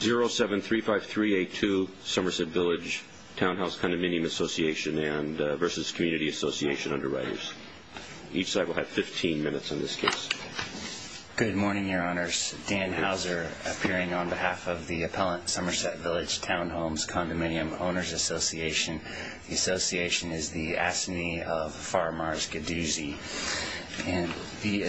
0735382 Somerset Village Townhouse Condominium Association v. Community Association Underwriters Each side will have 15 minutes on this case Good morning, your honors. Dan Hauser appearing on behalf of the Appellant Somerset Village Townhomes Condominium Owners Association The association is the assignee of Faramars Gadoozy The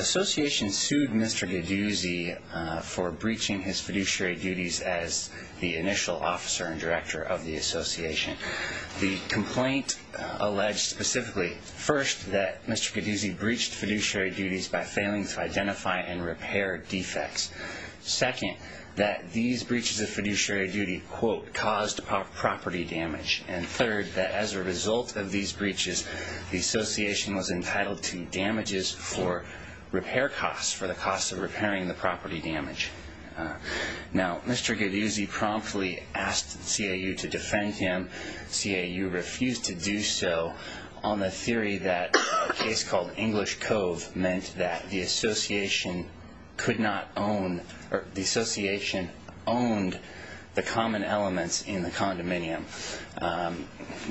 association sued Mr. Gadoozy for breaching his fiduciary duties as the initial officer and director of the association The complaint alleged specifically, first, that Mr. Gadoozy breached fiduciary duties by failing to identify and repair defects Second, that these breaches of fiduciary duty, quote, caused property damage And third, that as a result of these breaches, the association was entitled to damages for repair costs, for the costs of repairing the property damage Now, Mr. Gadoozy promptly asked CAU to defend him CAU refused to do so on the theory that a case called English Cove meant that the association could not own, or the association owned the common elements in the condominium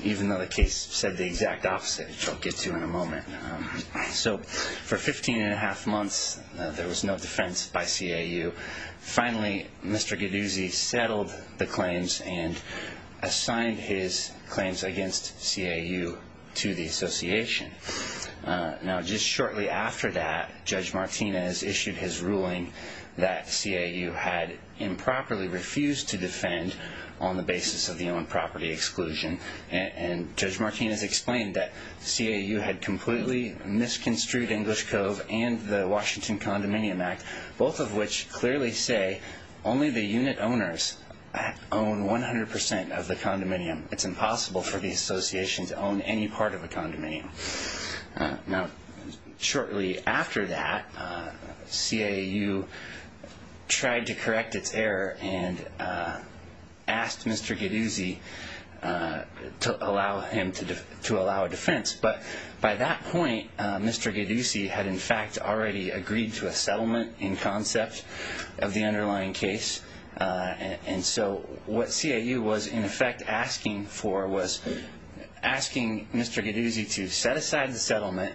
Even though the case said the exact opposite, which I'll get to in a moment So, for 15 and a half months, there was no defense by CAU Finally, Mr. Gadoozy settled the claims and assigned his claims against CAU to the association Now, just shortly after that, Judge Martinez issued his ruling that CAU had improperly refused to defend on the basis of the owned property exclusion And Judge Martinez explained that CAU had completely misconstrued English Cove and the Washington Condominium Act Both of which clearly say only the unit owners own 100% of the condominium It's impossible for the association to own any part of a condominium Now, shortly after that, CAU tried to correct its error and asked Mr. Gadoozy to allow a defense But by that point, Mr. Gadoozy had in fact already agreed to a settlement in concept of the underlying case And so, what CAU was in effect asking for was asking Mr. Gadoozy to set aside the settlement,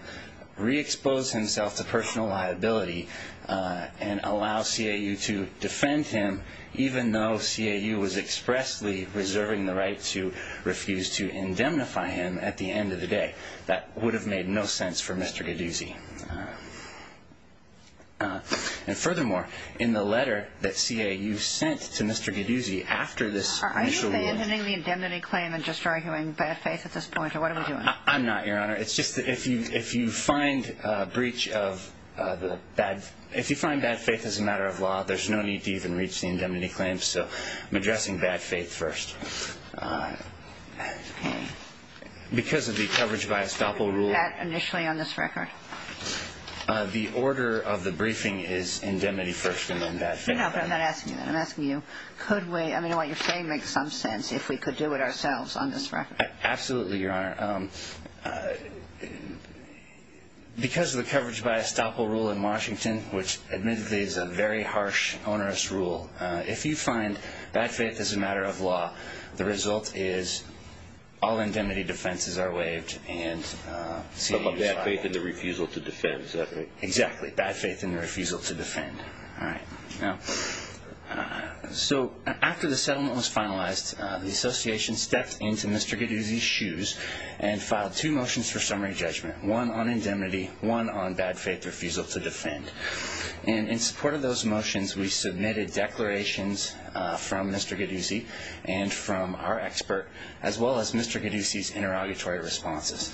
re-expose himself to personal liability And allow CAU to defend him, even though CAU was expressly reserving the right to refuse to indemnify him at the end of the day That would have made no sense for Mr. Gadoozy And furthermore, in the letter that CAU sent to Mr. Gadoozy after this initial ruling Are you abandoning the indemnity claim and just arguing bad faith at this point, or what are we doing? I'm not, Your Honor. It's just that if you find breach of the bad... If you find bad faith as a matter of law, there's no need to even reach the indemnity claim So, I'm addressing bad faith first Okay Because of the coverage by estoppel rule That initially on this record? The order of the briefing is indemnity first and then bad faith No, but I'm not asking you that. I'm asking you, could we... I mean, what you're saying makes some sense if we could do it ourselves on this record Absolutely, Your Honor Because of the coverage by estoppel rule in Washington, which admittedly is a very harsh, onerous rule If you find bad faith as a matter of law, the result is all indemnity defenses are waived And... So, bad faith and the refusal to defend, is that right? Exactly. Bad faith and the refusal to defend All right So, after the settlement was finalized, the association stepped into Mr. Gadoozy's shoes And filed two motions for summary judgment One on indemnity, one on bad faith refusal to defend And in support of those motions, we submitted declarations from Mr. Gadoozy And from our expert, as well as Mr. Gadoozy's interrogatory responses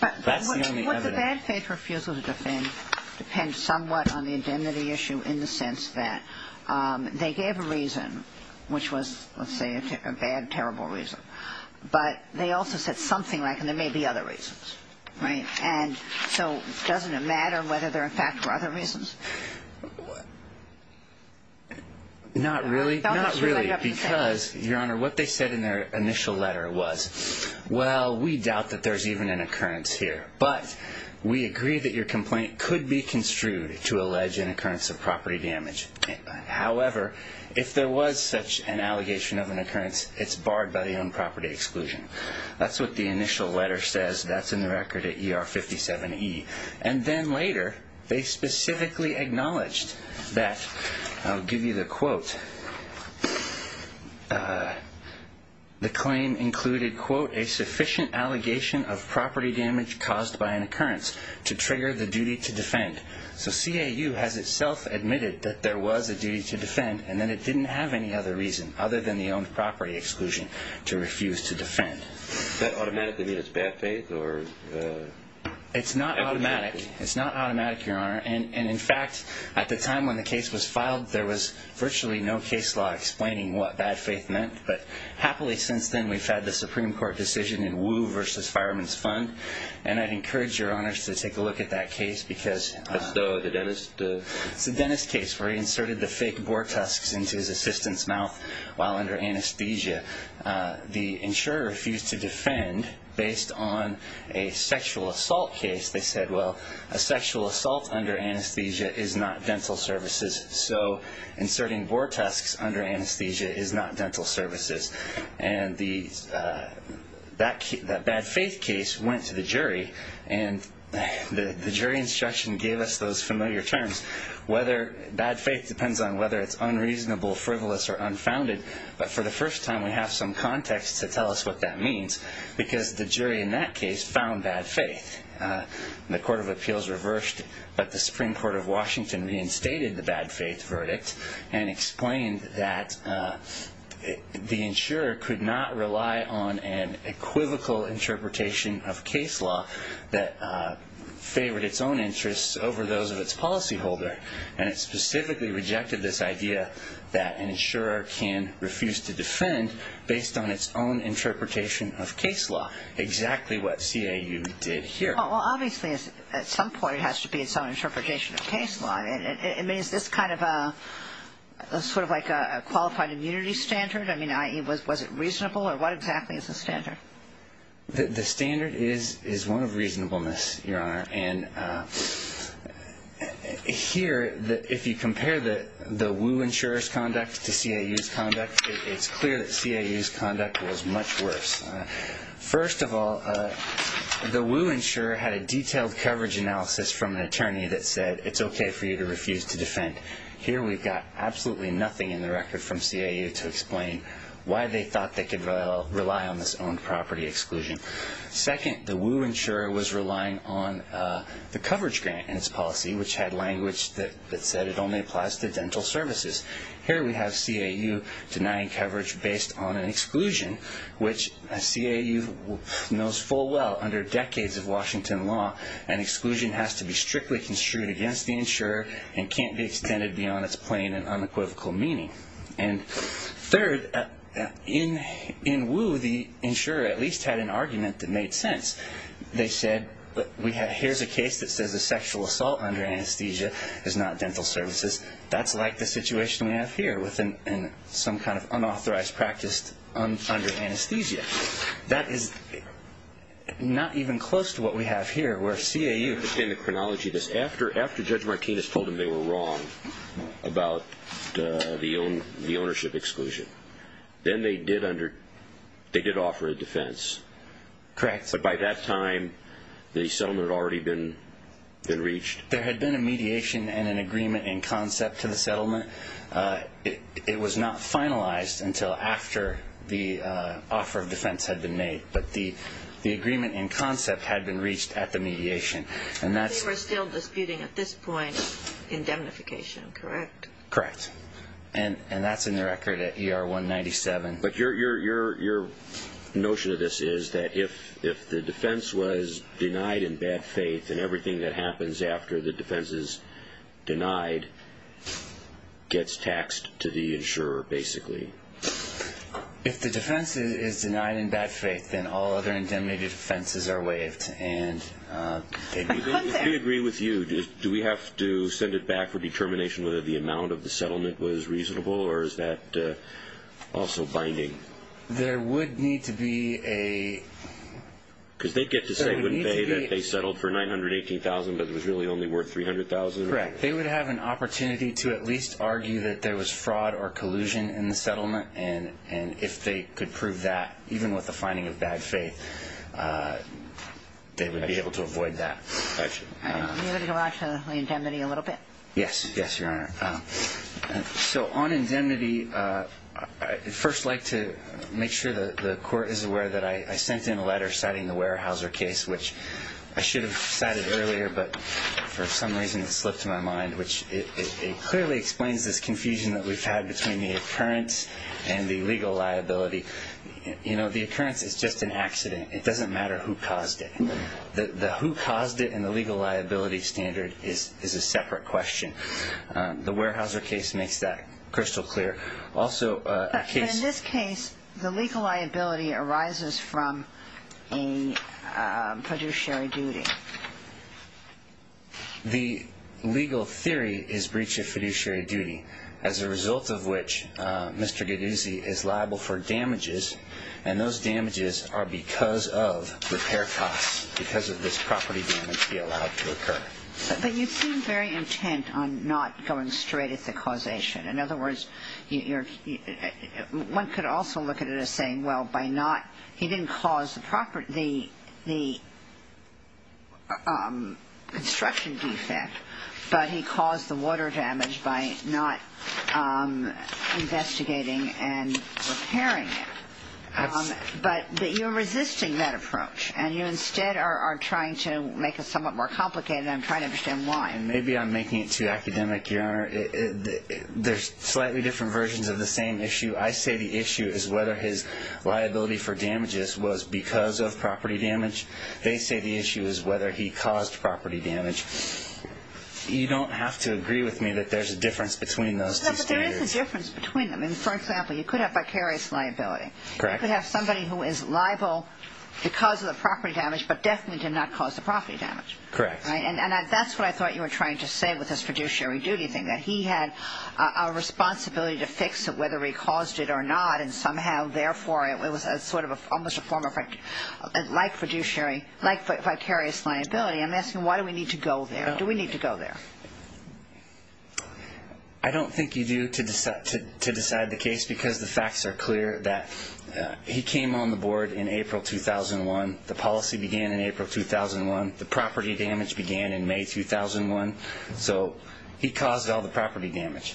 That's the only evidence Well, the bad faith refusal to defend depends somewhat on the indemnity issue In the sense that they gave a reason, which was, let's say, a bad, terrible reason But they also said something like, and there may be other reasons, right? And so, doesn't it matter whether they're in fact for other reasons? Not really Because, Your Honor, what they said in their initial letter was Well, we doubt that there's even an occurrence here But, we agree that your complaint could be construed to allege an occurrence of property damage However, if there was such an allegation of an occurrence, it's barred by the owned property exclusion That's what the initial letter says, that's in the record at ER 57E And then later, they specifically acknowledged that I'll give you the quote The claim included, quote, a sufficient allegation of property damage caused by an occurrence To trigger the duty to defend So, CAU has itself admitted that there was a duty to defend And that it didn't have any other reason, other than the owned property exclusion, to refuse to defend Does that automatically mean it's bad faith? It's not automatic, it's not automatic, Your Honor And, in fact, at the time when the case was filed, there was virtually no case law explaining what bad faith meant But, happily, since then, we've had the Supreme Court decision in Wu v. Fireman's Fund And I'd encourage Your Honors to take a look at that case That's the dentist? It's the dentist case, where he inserted the fake boar tusks into his assistant's mouth while under anesthesia The insurer refused to defend, based on a sexual assault case They said, well, a sexual assault under anesthesia is not dental services So, inserting boar tusks under anesthesia is not dental services The jury instruction gave us those familiar terms Bad faith depends on whether it's unreasonable, frivolous, or unfounded But, for the first time, we have some context to tell us what that means Because the jury, in that case, found bad faith The Court of Appeals reversed, but the Supreme Court of Washington reinstated the bad faith verdict And explained that the insurer could not rely on an equivocal interpretation of case law That favored its own interests over those of its policyholder And it specifically rejected this idea that an insurer can refuse to defend Based on its own interpretation of case law Exactly what CAU did here Well, obviously, at some point, it has to be its own interpretation of case law I mean, is this sort of like a qualified immunity standard? I mean, i.e., was it reasonable, or what exactly is the standard? The standard is one of reasonableness, Your Honor And here, if you compare the Wu insurer's conduct to CAU's conduct It's clear that CAU's conduct was much worse First of all, the Wu insurer had a detailed coverage analysis from an attorney That said, it's okay for you to refuse to defend Here we've got absolutely nothing in the record from CAU to explain Why they thought they could rely on this owned property exclusion Second, the Wu insurer was relying on the coverage grant in its policy Which had language that said it only applies to dental services Here we have CAU denying coverage based on an exclusion Which CAU knows full well, under decades of Washington law An exclusion has to be strictly construed against the insurer And can't be extended beyond its plain and unequivocal meaning And third, in Wu, the insurer at least had an argument that made sense They said, here's a case that says a sexual assault under anesthesia is not dental services That's like the situation we have here With some kind of unauthorized practice under anesthesia That is not even close to what we have here Where CAU... I don't understand the chronology of this After Judge Martinez told them they were wrong about the ownership exclusion Then they did offer a defense Correct But by that time, the settlement had already been reached There had been a mediation and an agreement in concept to the settlement It was not finalized until after the offer of defense had been made But the agreement in concept had been reached at the mediation They were still disputing at this point indemnification, correct? Correct And that's in the record at ER 197 But your notion of this is that if the defense was denied in bad faith Then everything that happens after the defense is denied Gets taxed to the insurer, basically If the defense is denied in bad faith Then all other indemnified offenses are waived I agree with you Do we have to send it back for determination Whether the amount of the settlement was reasonable Or is that also binding? There would need to be a... Because they get to say that they settled for $918,000 But it was really only worth $300,000 Correct They would have an opportunity to at least argue That there was fraud or collusion in the settlement And if they could prove that, even with the finding of bad faith They would be able to avoid that You want to go back to indemnity a little bit? Yes, your honor So on indemnity I'd first like to make sure the court is aware That I sent in a letter citing the Weyerhaeuser case Which I should have cited earlier But for some reason it slipped my mind It clearly explains this confusion that we've had Between the occurrence and the legal liability The occurrence is just an accident It doesn't matter who caused it The who caused it and the legal liability standard Is a separate question The Weyerhaeuser case makes that crystal clear In this case, the legal liability arises from a fiduciary duty The legal theory is breach of fiduciary duty As a result of which, Mr. Geduzzi is liable for damages And those damages are because of repair costs Because of this property damage he allowed to occur But you seem very intent on not going straight at the causation In other words, one could also look at it as saying He didn't cause the construction defect But he caused the water damage by not investigating and repairing it But you're resisting that approach And you instead are trying to make it somewhat more complicated And I'm trying to understand why Maybe I'm making it too academic, your honor There's slightly different versions of the same issue I say the issue is whether his liability for damages Was because of property damage They say the issue is whether he caused property damage You don't have to agree with me That there's a difference between those two standards There is a difference between them For example, you could have vicarious liability You could have somebody who is liable because of the property damage But definitely did not cause the property damage And that's what I thought you were trying to say With this fiduciary duty thing That he had a responsibility to fix it Whether he caused it or not And somehow, therefore, it was almost a form of Like fiduciary, like vicarious liability I'm asking why do we need to go there? Do we need to go there? I don't think you do to decide the case Because the facts are clear That he came on the board in April 2001 The policy began in April 2001 The property damage began in May 2001 So he caused all the property damage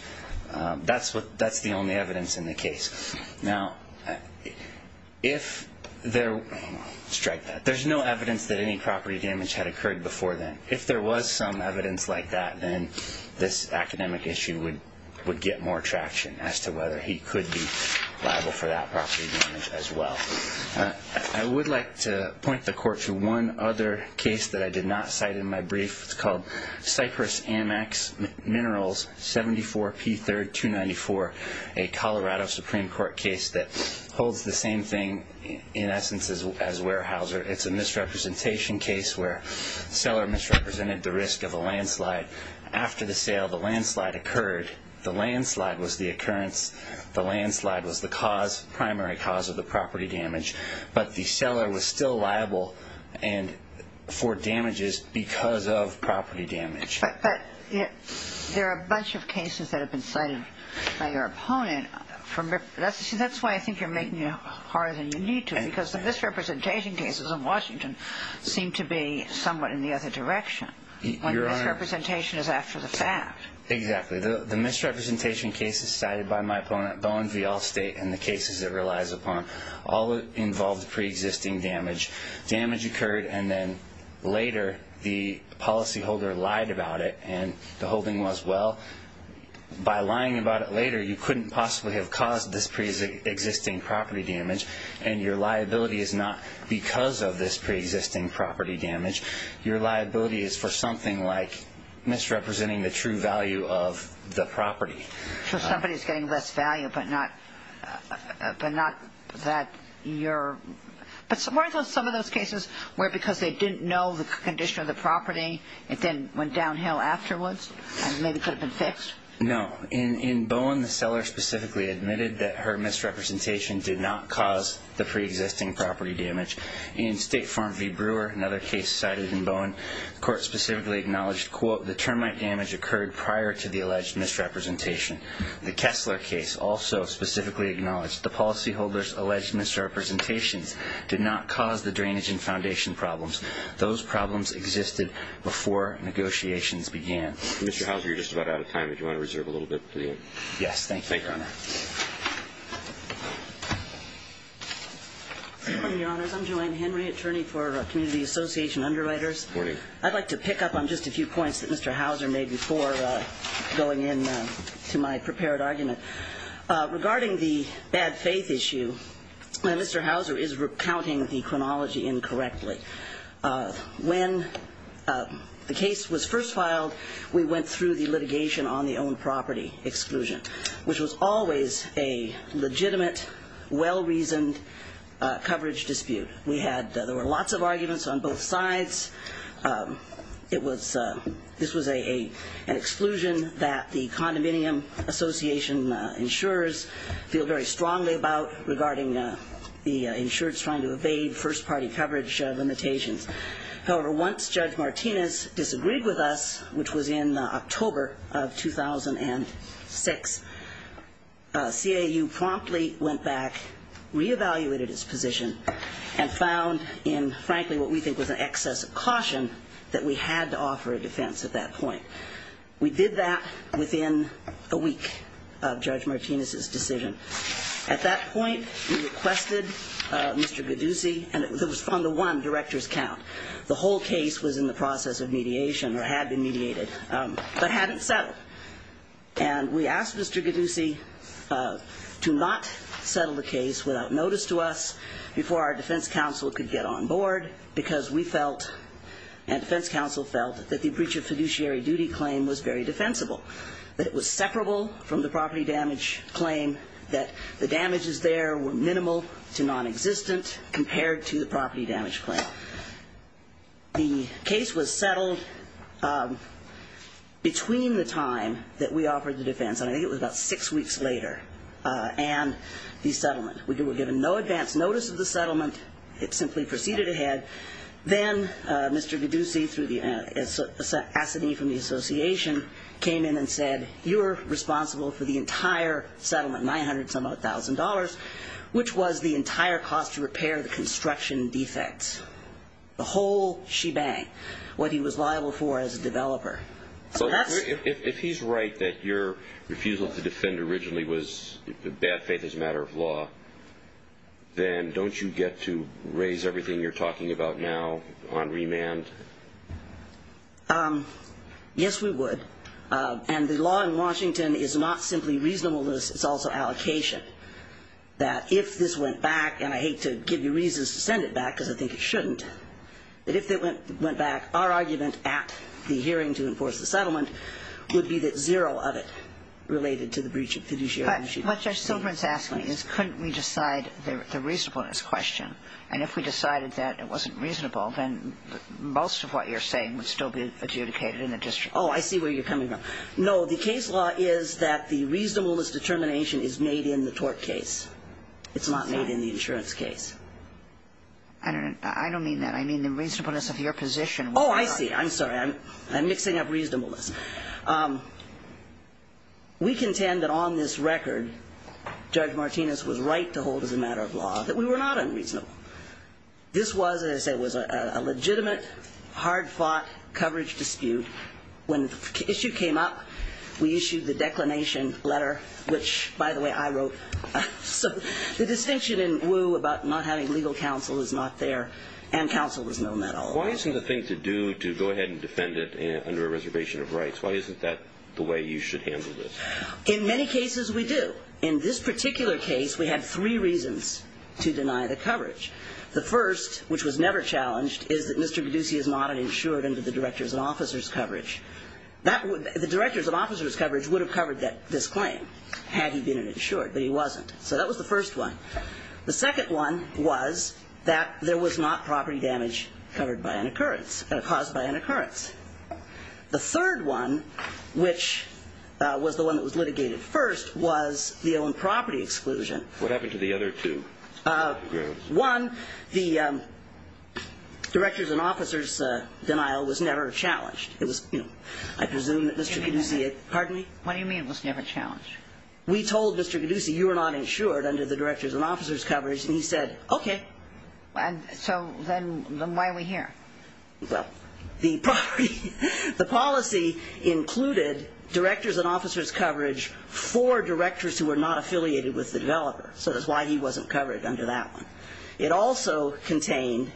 That's the only evidence in the case Now, if there Strike that There's no evidence that any property damage had occurred before then If there was some evidence like that Then this academic issue would get more traction As to whether he could be liable for that property damage as well I would like to point the court to one other case That I did not cite in my brief It's called Cypress Amex Minerals 74P3294 A Colorado Supreme Court case That holds the same thing in essence as Weyerhaeuser It's a misrepresentation case Where the seller misrepresented the risk of a landslide After the sale, the landslide occurred The landslide was the occurrence The landslide was the cause Of the property damage But the seller was still liable For damages because of property damage But there are a bunch of cases That have been cited by your opponent That's why I think you're making it harder than you need to Because the misrepresentation cases in Washington Seem to be somewhat in the other direction When the misrepresentation is after the fact Exactly The misrepresentation cases cited by my opponent Bowen v. Allstate and the cases it relies upon All involved pre-existing damage Damage occurred and then later The policyholder lied about it And the holding was well By lying about it later You couldn't possibly have caused this pre-existing property damage And your liability is not because of this pre-existing property damage Your liability is for something like Misrepresenting the true value of the property So somebody is getting less value but not But not that you're But weren't some of those cases Where because they didn't know the condition of the property It then went downhill afterwards And maybe could have been fixed No In Bowen the seller specifically admitted That her misrepresentation did not cause The pre-existing property damage In State Farm v. Brewer Another case cited in Bowen The court specifically acknowledged The termite damage occurred prior to the alleged misrepresentation The Kessler case also specifically acknowledged The policyholder's alleged misrepresentations Did not cause the drainage and foundation problems Those problems existed before negotiations began Mr. Houser you're just about out of time If you want to reserve a little bit for the end Yes, thank you Thank you, Your Honor I'm Joanne Henry Attorney for Community Association Underwriters Good morning I'd like to pick up on just a few points That Mr. Houser made before Going in to my prepared argument Regarding the bad faith issue Mr. Houser is recounting the chronology incorrectly When the case was first filed We went through the litigation on the owned property exclusion Which was always a legitimate Well-reasoned coverage dispute There were lots of arguments on both sides This was an exclusion That the condominium association insurers Feel very strongly about Regarding the insurers trying to evade First party coverage limitations However, once Judge Martinez disagreed with us Which was in October of 2006 CAU promptly went back Re-evaluated its position And found in frankly what we think was an excess of caution That we had to offer a defense at that point We did that within a week Of Judge Martinez's decision At that point, we requested Mr. Gaddusi And it was on the one director's count The whole case was in the process of mediation Or had been mediated But hadn't settled And we asked Mr. Gaddusi To not settle the case without notice to us Before our defense counsel could get on board Because we felt And defense counsel felt That the breach of fiduciary duty claim was very defensible That it was separable from the property damage claim That the damages there were minimal to non-existent Compared to the property damage claim The case was settled Between the time that we offered the defense And I think it was about six weeks later And the settlement We were given no advance notice of the settlement It simply proceeded ahead Then Mr. Gaddusi Through the assignee from the association Came in and said You're responsible for the entire settlement $900,000 Which was the entire cost to repair the construction defects The whole shebang What he was liable for as a developer So if he's right That your refusal to defend originally was The bad faith is a matter of law Then don't you get to raise everything you're talking about now On remand? Yes we would And the law in Washington is not simply reasonableness It's also allocation That if this went back And I hate to give you reasons to send it back Because I think it shouldn't But if it went back Our argument at the hearing to enforce the settlement Would be that zero of it What Judge Silverman is asking is Couldn't we decide the reasonableness question And if we decided that it wasn't reasonable Then most of what you're saying Would still be adjudicated in the district Oh I see where you're coming from No the case law is that The reasonableness determination is made in the tort case It's not made in the insurance case I don't mean that I mean the reasonableness of your position Oh I see I'm sorry I'm mixing up reasonableness We contend that on this record Judge Martinez was right to hold as a matter of law That we were not unreasonable This was, as I say, a legitimate Hard fought coverage dispute When the issue came up We issued the declination letter Which, by the way, I wrote So the distinction in Wu About not having legal counsel is not there And counsel was known at all Why isn't the thing to do To go ahead and defend it Under a reservation of rights Why isn't that the way you should handle this In many cases we do In this particular case We had three reasons to deny the coverage The first, which was never challenged Is that Mr. Geduce is not an insured Under the director's and officer's coverage The director's and officer's coverage Would have covered this claim Had he been an insured But he wasn't So that was the first one The second one was That there was not property damage Covered by an occurrence Caused by an occurrence The third one Which was the one that was litigated first Was the owned property exclusion What happened to the other two? One, the director's and officer's denial Was never challenged It was, you know I presume that Mr. Geduce Pardon me What do you mean it was never challenged? We told Mr. Geduce You were not insured Under the director's and officer's coverage And he said, okay So then why are we here? Well, the policy included Director's and officer's coverage For directors who were not affiliated with the developer So that's why he wasn't covered under that one It also contained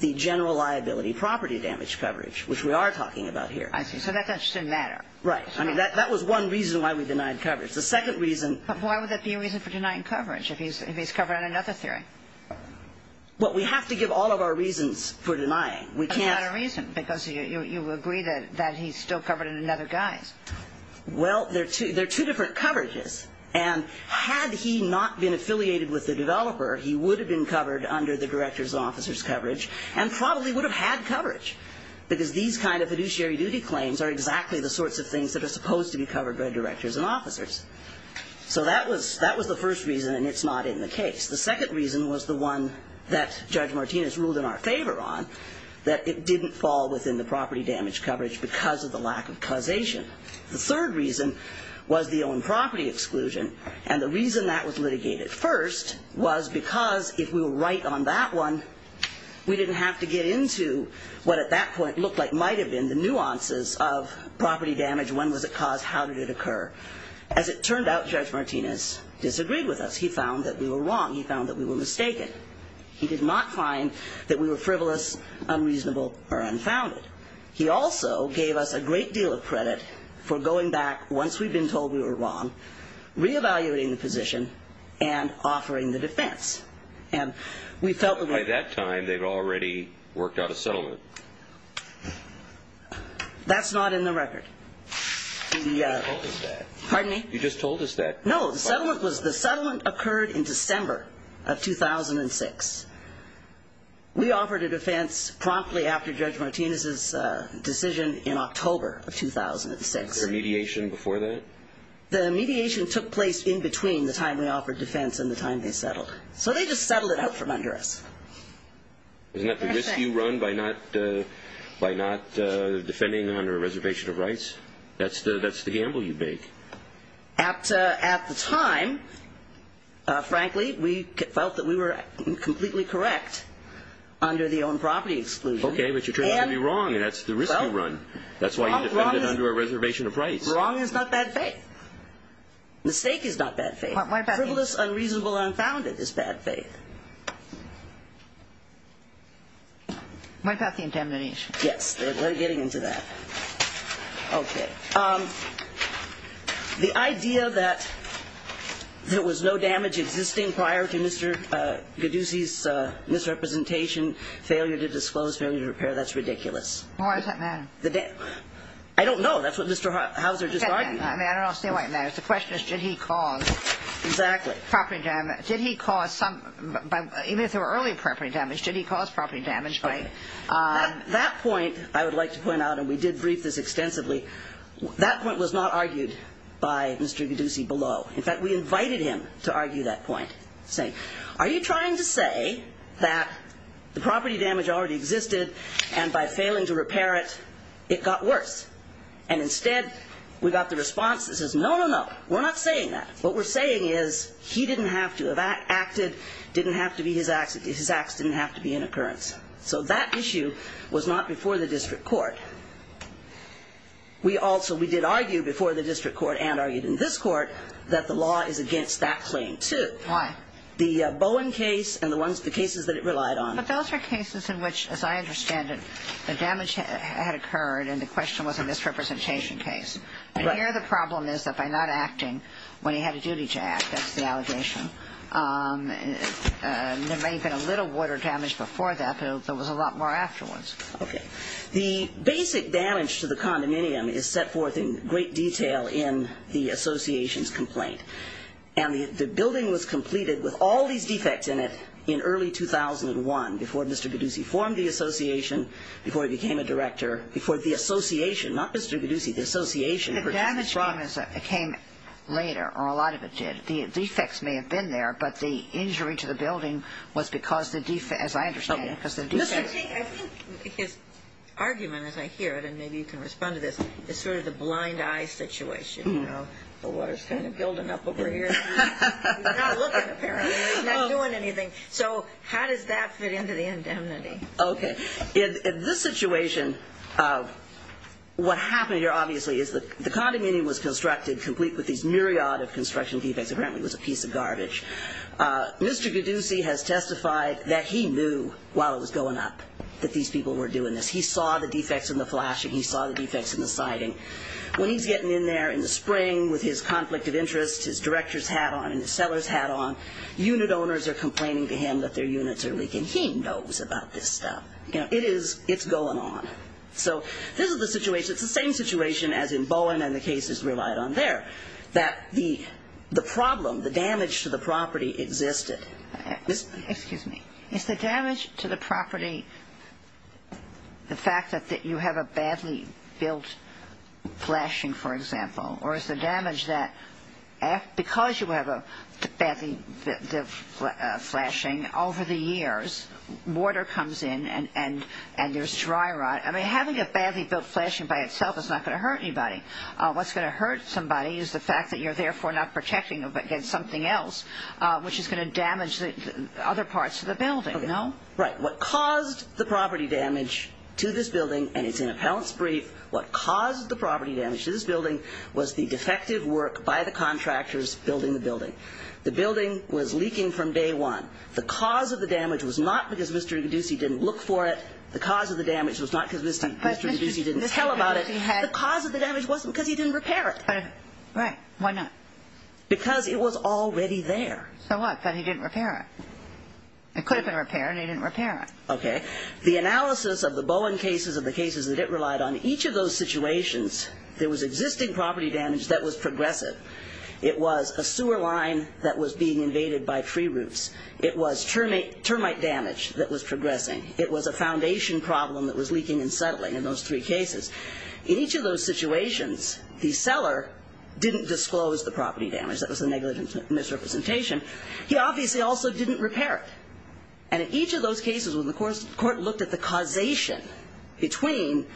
The general liability property damage coverage Which we are talking about here I see, so that doesn't matter Right I mean, that was one reason why we denied coverage The second reason But why would that be a reason for denying coverage If he's covered on another theory? Well, we have to give all of our reasons for denying We can't But that's not a reason Because you agree that he's still covered in another guise Well, they're two different coverages And had he not been affiliated with the developer He would have been covered under the director's and officer's coverage And probably would have had coverage Because these kind of fiduciary duty claims Are exactly the sorts of things That are supposed to be covered by directors and officers So that was the first reason And it's not in the case The second reason was the one That Judge Martinez ruled in our favor on That it didn't fall within the property damage coverage Because of the lack of causation The third reason was the owned property exclusion And the reason that was litigated first Was because if we were right on that one We didn't have to get into What at that point looked like might have been The nuances of property damage When was it caused? How did it occur? As it turned out, Judge Martinez disagreed with us He found that we were wrong He found that we were mistaken He did not find that we were frivolous Unreasonable or unfounded He also gave us a great deal of credit For going back once we'd been told we were wrong Re-evaluating the position And offering the defense And we felt that we... By that time, they'd already worked out a settlement That's not in the record You just told us that Pardon me? You just told us that No, the settlement was The settlement occurred in December of 2006 We offered a defense promptly After Judge Martinez's decision in October of 2006 Was there mediation before that? The mediation took place in between The time we offered defense And the time they settled So they just settled it out from under us Isn't that the risk you run By not defending under a reservation of rights? That's the gamble you make At the time, frankly We felt that we were completely correct Under the own property exclusion Okay, but you turned out to be wrong And that's the risk you run That's why you defended under a reservation of rights Wrong is not bad faith Mistake is not bad faith Frivolous, unreasonable, unfounded is bad faith What about the indemnification? Yes, we're getting into that Okay The idea that there was no damage existing Prior to Mr. Gaddusi's misrepresentation Failure to disclose, failure to repair That's ridiculous Why does that matter? I don't know, that's what Mr. Hauser just argued I don't understand why it matters The question is, did he cause property damage? Did he cause some... Even if there were early property damage Did he cause property damage by... That point I would like to point out And we did brief this extensively That point was not argued by Mr. Gaddusi below In fact, we invited him to argue that point Saying, are you trying to say That the property damage already existed And by failing to repair it, it got worse And instead, we got the response that says No, no, no, we're not saying that What we're saying is He didn't have to have acted Didn't have to be his acts His acts didn't have to be an occurrence So that issue was not before the district court We also, we did argue before the district court And argued in this court That the law is against that claim too Why? The Bowen case and the cases that it relied on But those are cases in which, as I understand it The damage had occurred And the question was a misrepresentation case Right And here the problem is that by not acting When he had a duty to act, that's the allegation There may have been a little water damage before that There was a lot more afterwards Okay The basic damage to the condominium Is set forth in great detail in the association's complaint And the building was completed With all these defects in it in early 2001 Before Mr. Biduci formed the association Before he became a director Before the association Not Mr. Biduci, the association The damage came later, or a lot of it did The defects may have been there But the injury to the building was because As I understand it Mr. King, I think his argument, as I hear it And maybe you can respond to this Is sort of the blind eye situation You know, the water's kind of building up over here It's not looking apparently It's not doing anything So how does that fit into the indemnity? Okay In this situation What happened here, obviously, is that The condominium was constructed Complete with these myriad of construction defects Apparently it was a piece of garbage Mr. Biduci has testified that he knew While it was going up That these people were doing this He saw the defects in the flashing He saw the defects in the siding When he's getting in there in the spring With his conflict of interest His director's hat on And his seller's hat on Unit owners are complaining to him That their units are leaking He knows about this stuff You know, it's going on So this is the situation It's the same situation as in Bowen And the cases relied on there That the problem The damage to the property existed Excuse me Is the damage to the property The fact that you have a badly built flashing, for example Or is the damage that Because you have a badly built flashing Over the years Water comes in And there's dry rot I mean, having a badly built flashing by itself Is not going to hurt anybody What's going to hurt somebody Is the fact that you're therefore Not protecting against something else Which is going to damage Other parts of the building, no? Right What caused the property damage To this building And it's an appellant's brief What caused the property damage To this building Was the defective work By the contractors Building the building The building was leaking from day one The cause of the damage Was not because Mr. Iguoducy Didn't look for it The cause of the damage Was not because Mr. Iguoducy Didn't tell about it The cause of the damage Wasn't because he didn't repair it Right, why not? Because it was already there So what? But he didn't repair it It could have been repaired And he didn't repair it Okay The analysis of the Bowen cases Of the cases that it relied on Each of those situations There was existing property damage That was progressive It was a sewer line That was being invaded by free routes It was termite damage That was progressing It was a foundation problem That was leaking and settling In those three cases In each of those situations The seller didn't disclose The property damage That was a negligent misrepresentation He obviously also didn't repair it And in each of those cases When the court looked at the causation Between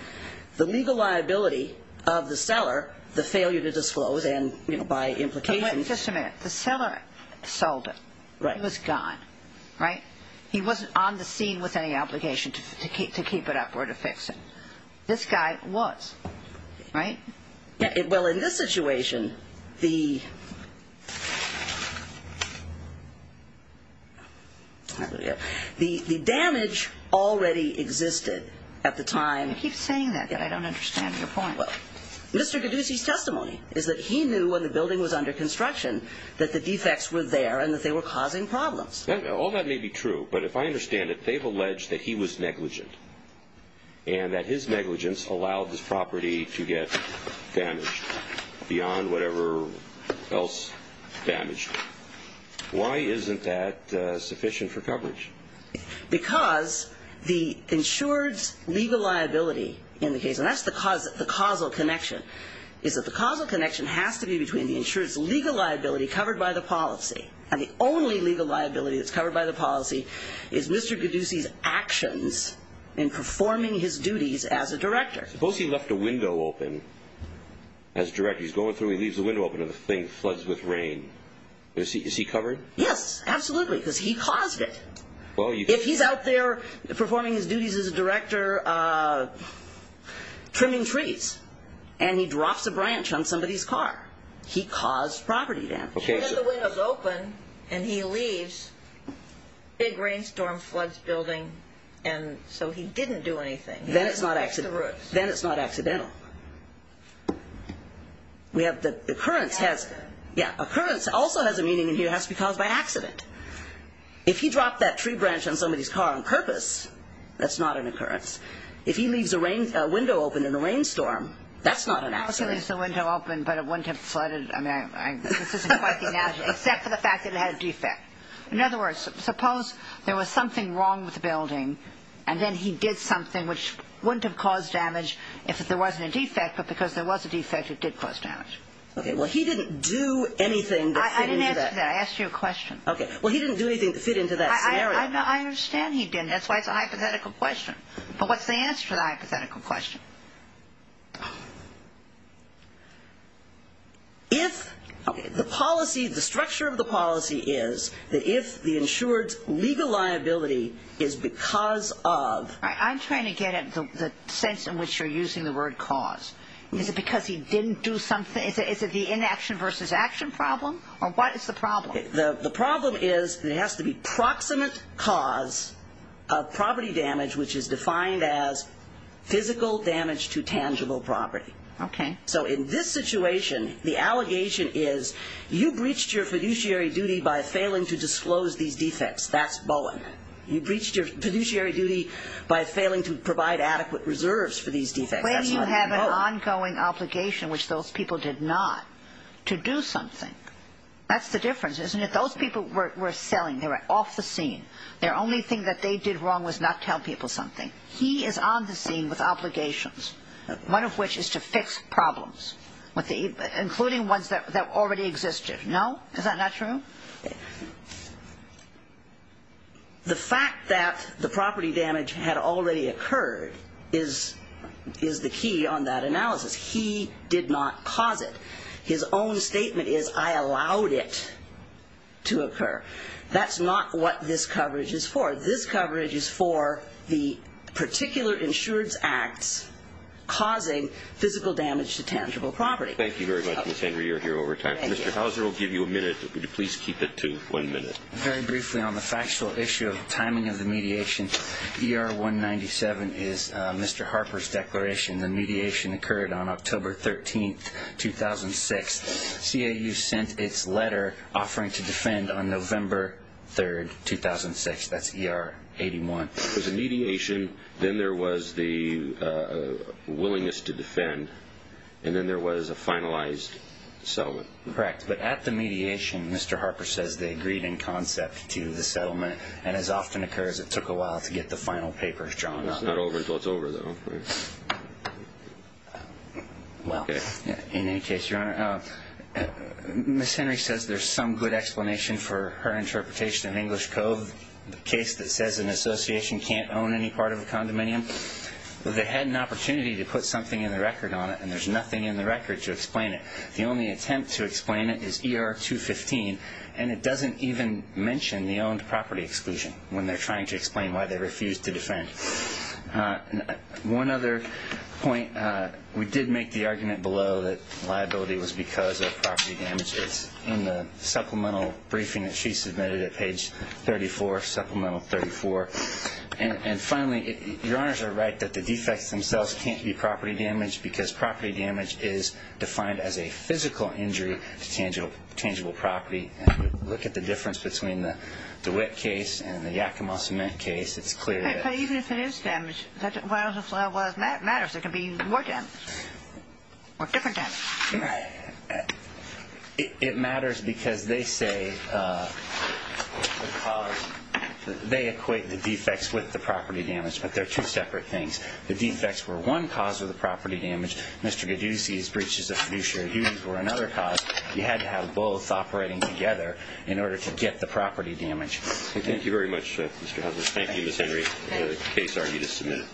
the legal liability Of the seller The failure to disclose And by implication Just a minute The seller sold it Right It was gone Right He wasn't on the scene With any obligation To keep it up Or to fix it This guy was Right Well in this situation The The damage already existed At the time You keep saying that And I don't understand your point Well Mr. Caduce's testimony Is that he knew When the building was under construction That the defects were there And that they were causing problems All that may be true But if I understand it They've alleged that he was negligent And that his negligence Allowed this property to get damaged Beyond whatever else damaged Why isn't that sufficient for coverage? Because The insured's legal liability In the case And that's the causal connection Is that the causal connection Has to be between The insured's legal liability Covered by the policy And the only legal liability That's covered by the policy Is Mr. Caduce's actions In performing his duties As a director Suppose he left a window open As director He's going through He leaves a window open And the thing floods with rain Is he covered? Yes Absolutely Because he caused it If he's out there Performing his duties As a director Trimming trees And he drops a branch On somebody's car He caused property damage When the window's open And he leaves Big rainstorm Floods building And so he didn't do anything Then it's not accidental Then it's not accidental We have the occurrence has Yeah, occurrence also has a meaning And it has to be caused by accident If he dropped that tree branch On somebody's car on purpose That's not an occurrence If he leaves a window open In a rainstorm That's not an accident He leaves the window open But it wouldn't have flooded I mean, this isn't quite the analogy Except for the fact that it had a defect In other words Suppose there was something wrong With the building And then he did something Which wouldn't have caused damage If there wasn't a defect But because there was a defect It did cause damage Okay, well he didn't do anything I didn't answer that I asked you a question Okay, well he didn't do anything To fit into that scenario I understand he didn't That's why it's a hypothetical question But what's the answer To that hypothetical question? If the policy The structure of the policy is That if the insured's legal liability Is because of I'm trying to get at the sense In which you're using the word cause Is it because he didn't do something Is it the inaction versus action problem? Or what is the problem? The problem is There has to be proximate cause Of property damage Which is defined as Physical damage to tangible property Okay So in this situation The allegation is You breached your fiduciary duty By failing to disclose these defects That's Boeing You breached your fiduciary duty By failing to provide adequate reserves For these defects That's Boeing When you have an ongoing obligation Which those people did not To do something That's the difference, isn't it? Those people were selling They were off the scene Their only thing that they did wrong Was not tell people something He is on the scene with obligations One of which is to fix problems Including ones that already existed No? Is that not true? The fact that the property damage Had already occurred Is the key on that analysis He did not cause it His own statement is I allowed it to occur That's not what this coverage is for This coverage is for The particular insurance acts Causing physical damage To tangible property Thank you very much, Ms. Henry You're here over time Mr. Hauser will give you a minute Would you please keep it to one minute? Very briefly on the factual issue Of timing of the mediation ER-197 is Mr. Harper's declaration The mediation occurred on October 13, 2006 CAU sent its letter Offering to defend on November 3, 2006 That's ER-81 There was a mediation Then there was the willingness to defend And then there was a finalized settlement Correct, but at the mediation Mr. Harper says they agreed in concept To the settlement And as often occurs It took a while to get the final papers drawn up It's not over until it's over, though Well, in any case, Your Honor Ms. Henry says there's some good explanation For her interpretation in English Code The case that says an association Can't own any part of a condominium They had an opportunity To put something in the record on it And there's nothing in the record to explain it The only attempt to explain it is ER-215 And it doesn't even mention The owned property exclusion When they're trying to explain Why they refused to defend One other point We did make the argument below That liability was because of property damage It's in the supplemental briefing That she submitted at page 34 Supplemental 34 And finally, Your Honors are right That the defects themselves Can't be property damage Because property damage is Defined as a physical injury To tangible property And if you look at the difference Between the DeWitt case And the Yakima Cement case It's clear that But even if it is damage What else matters? There can be more damage Or different damage It matters because they say They equate the defects With the property damage But they're two separate things The defects were one cause Of the property damage Mr. DeGiussi's breaches Of fiduciary duties Were another cause You had to have both Operating together In order to get the property damage Thank you very much, Mr. Houser Thank you, Ms. Henry The case are you to submit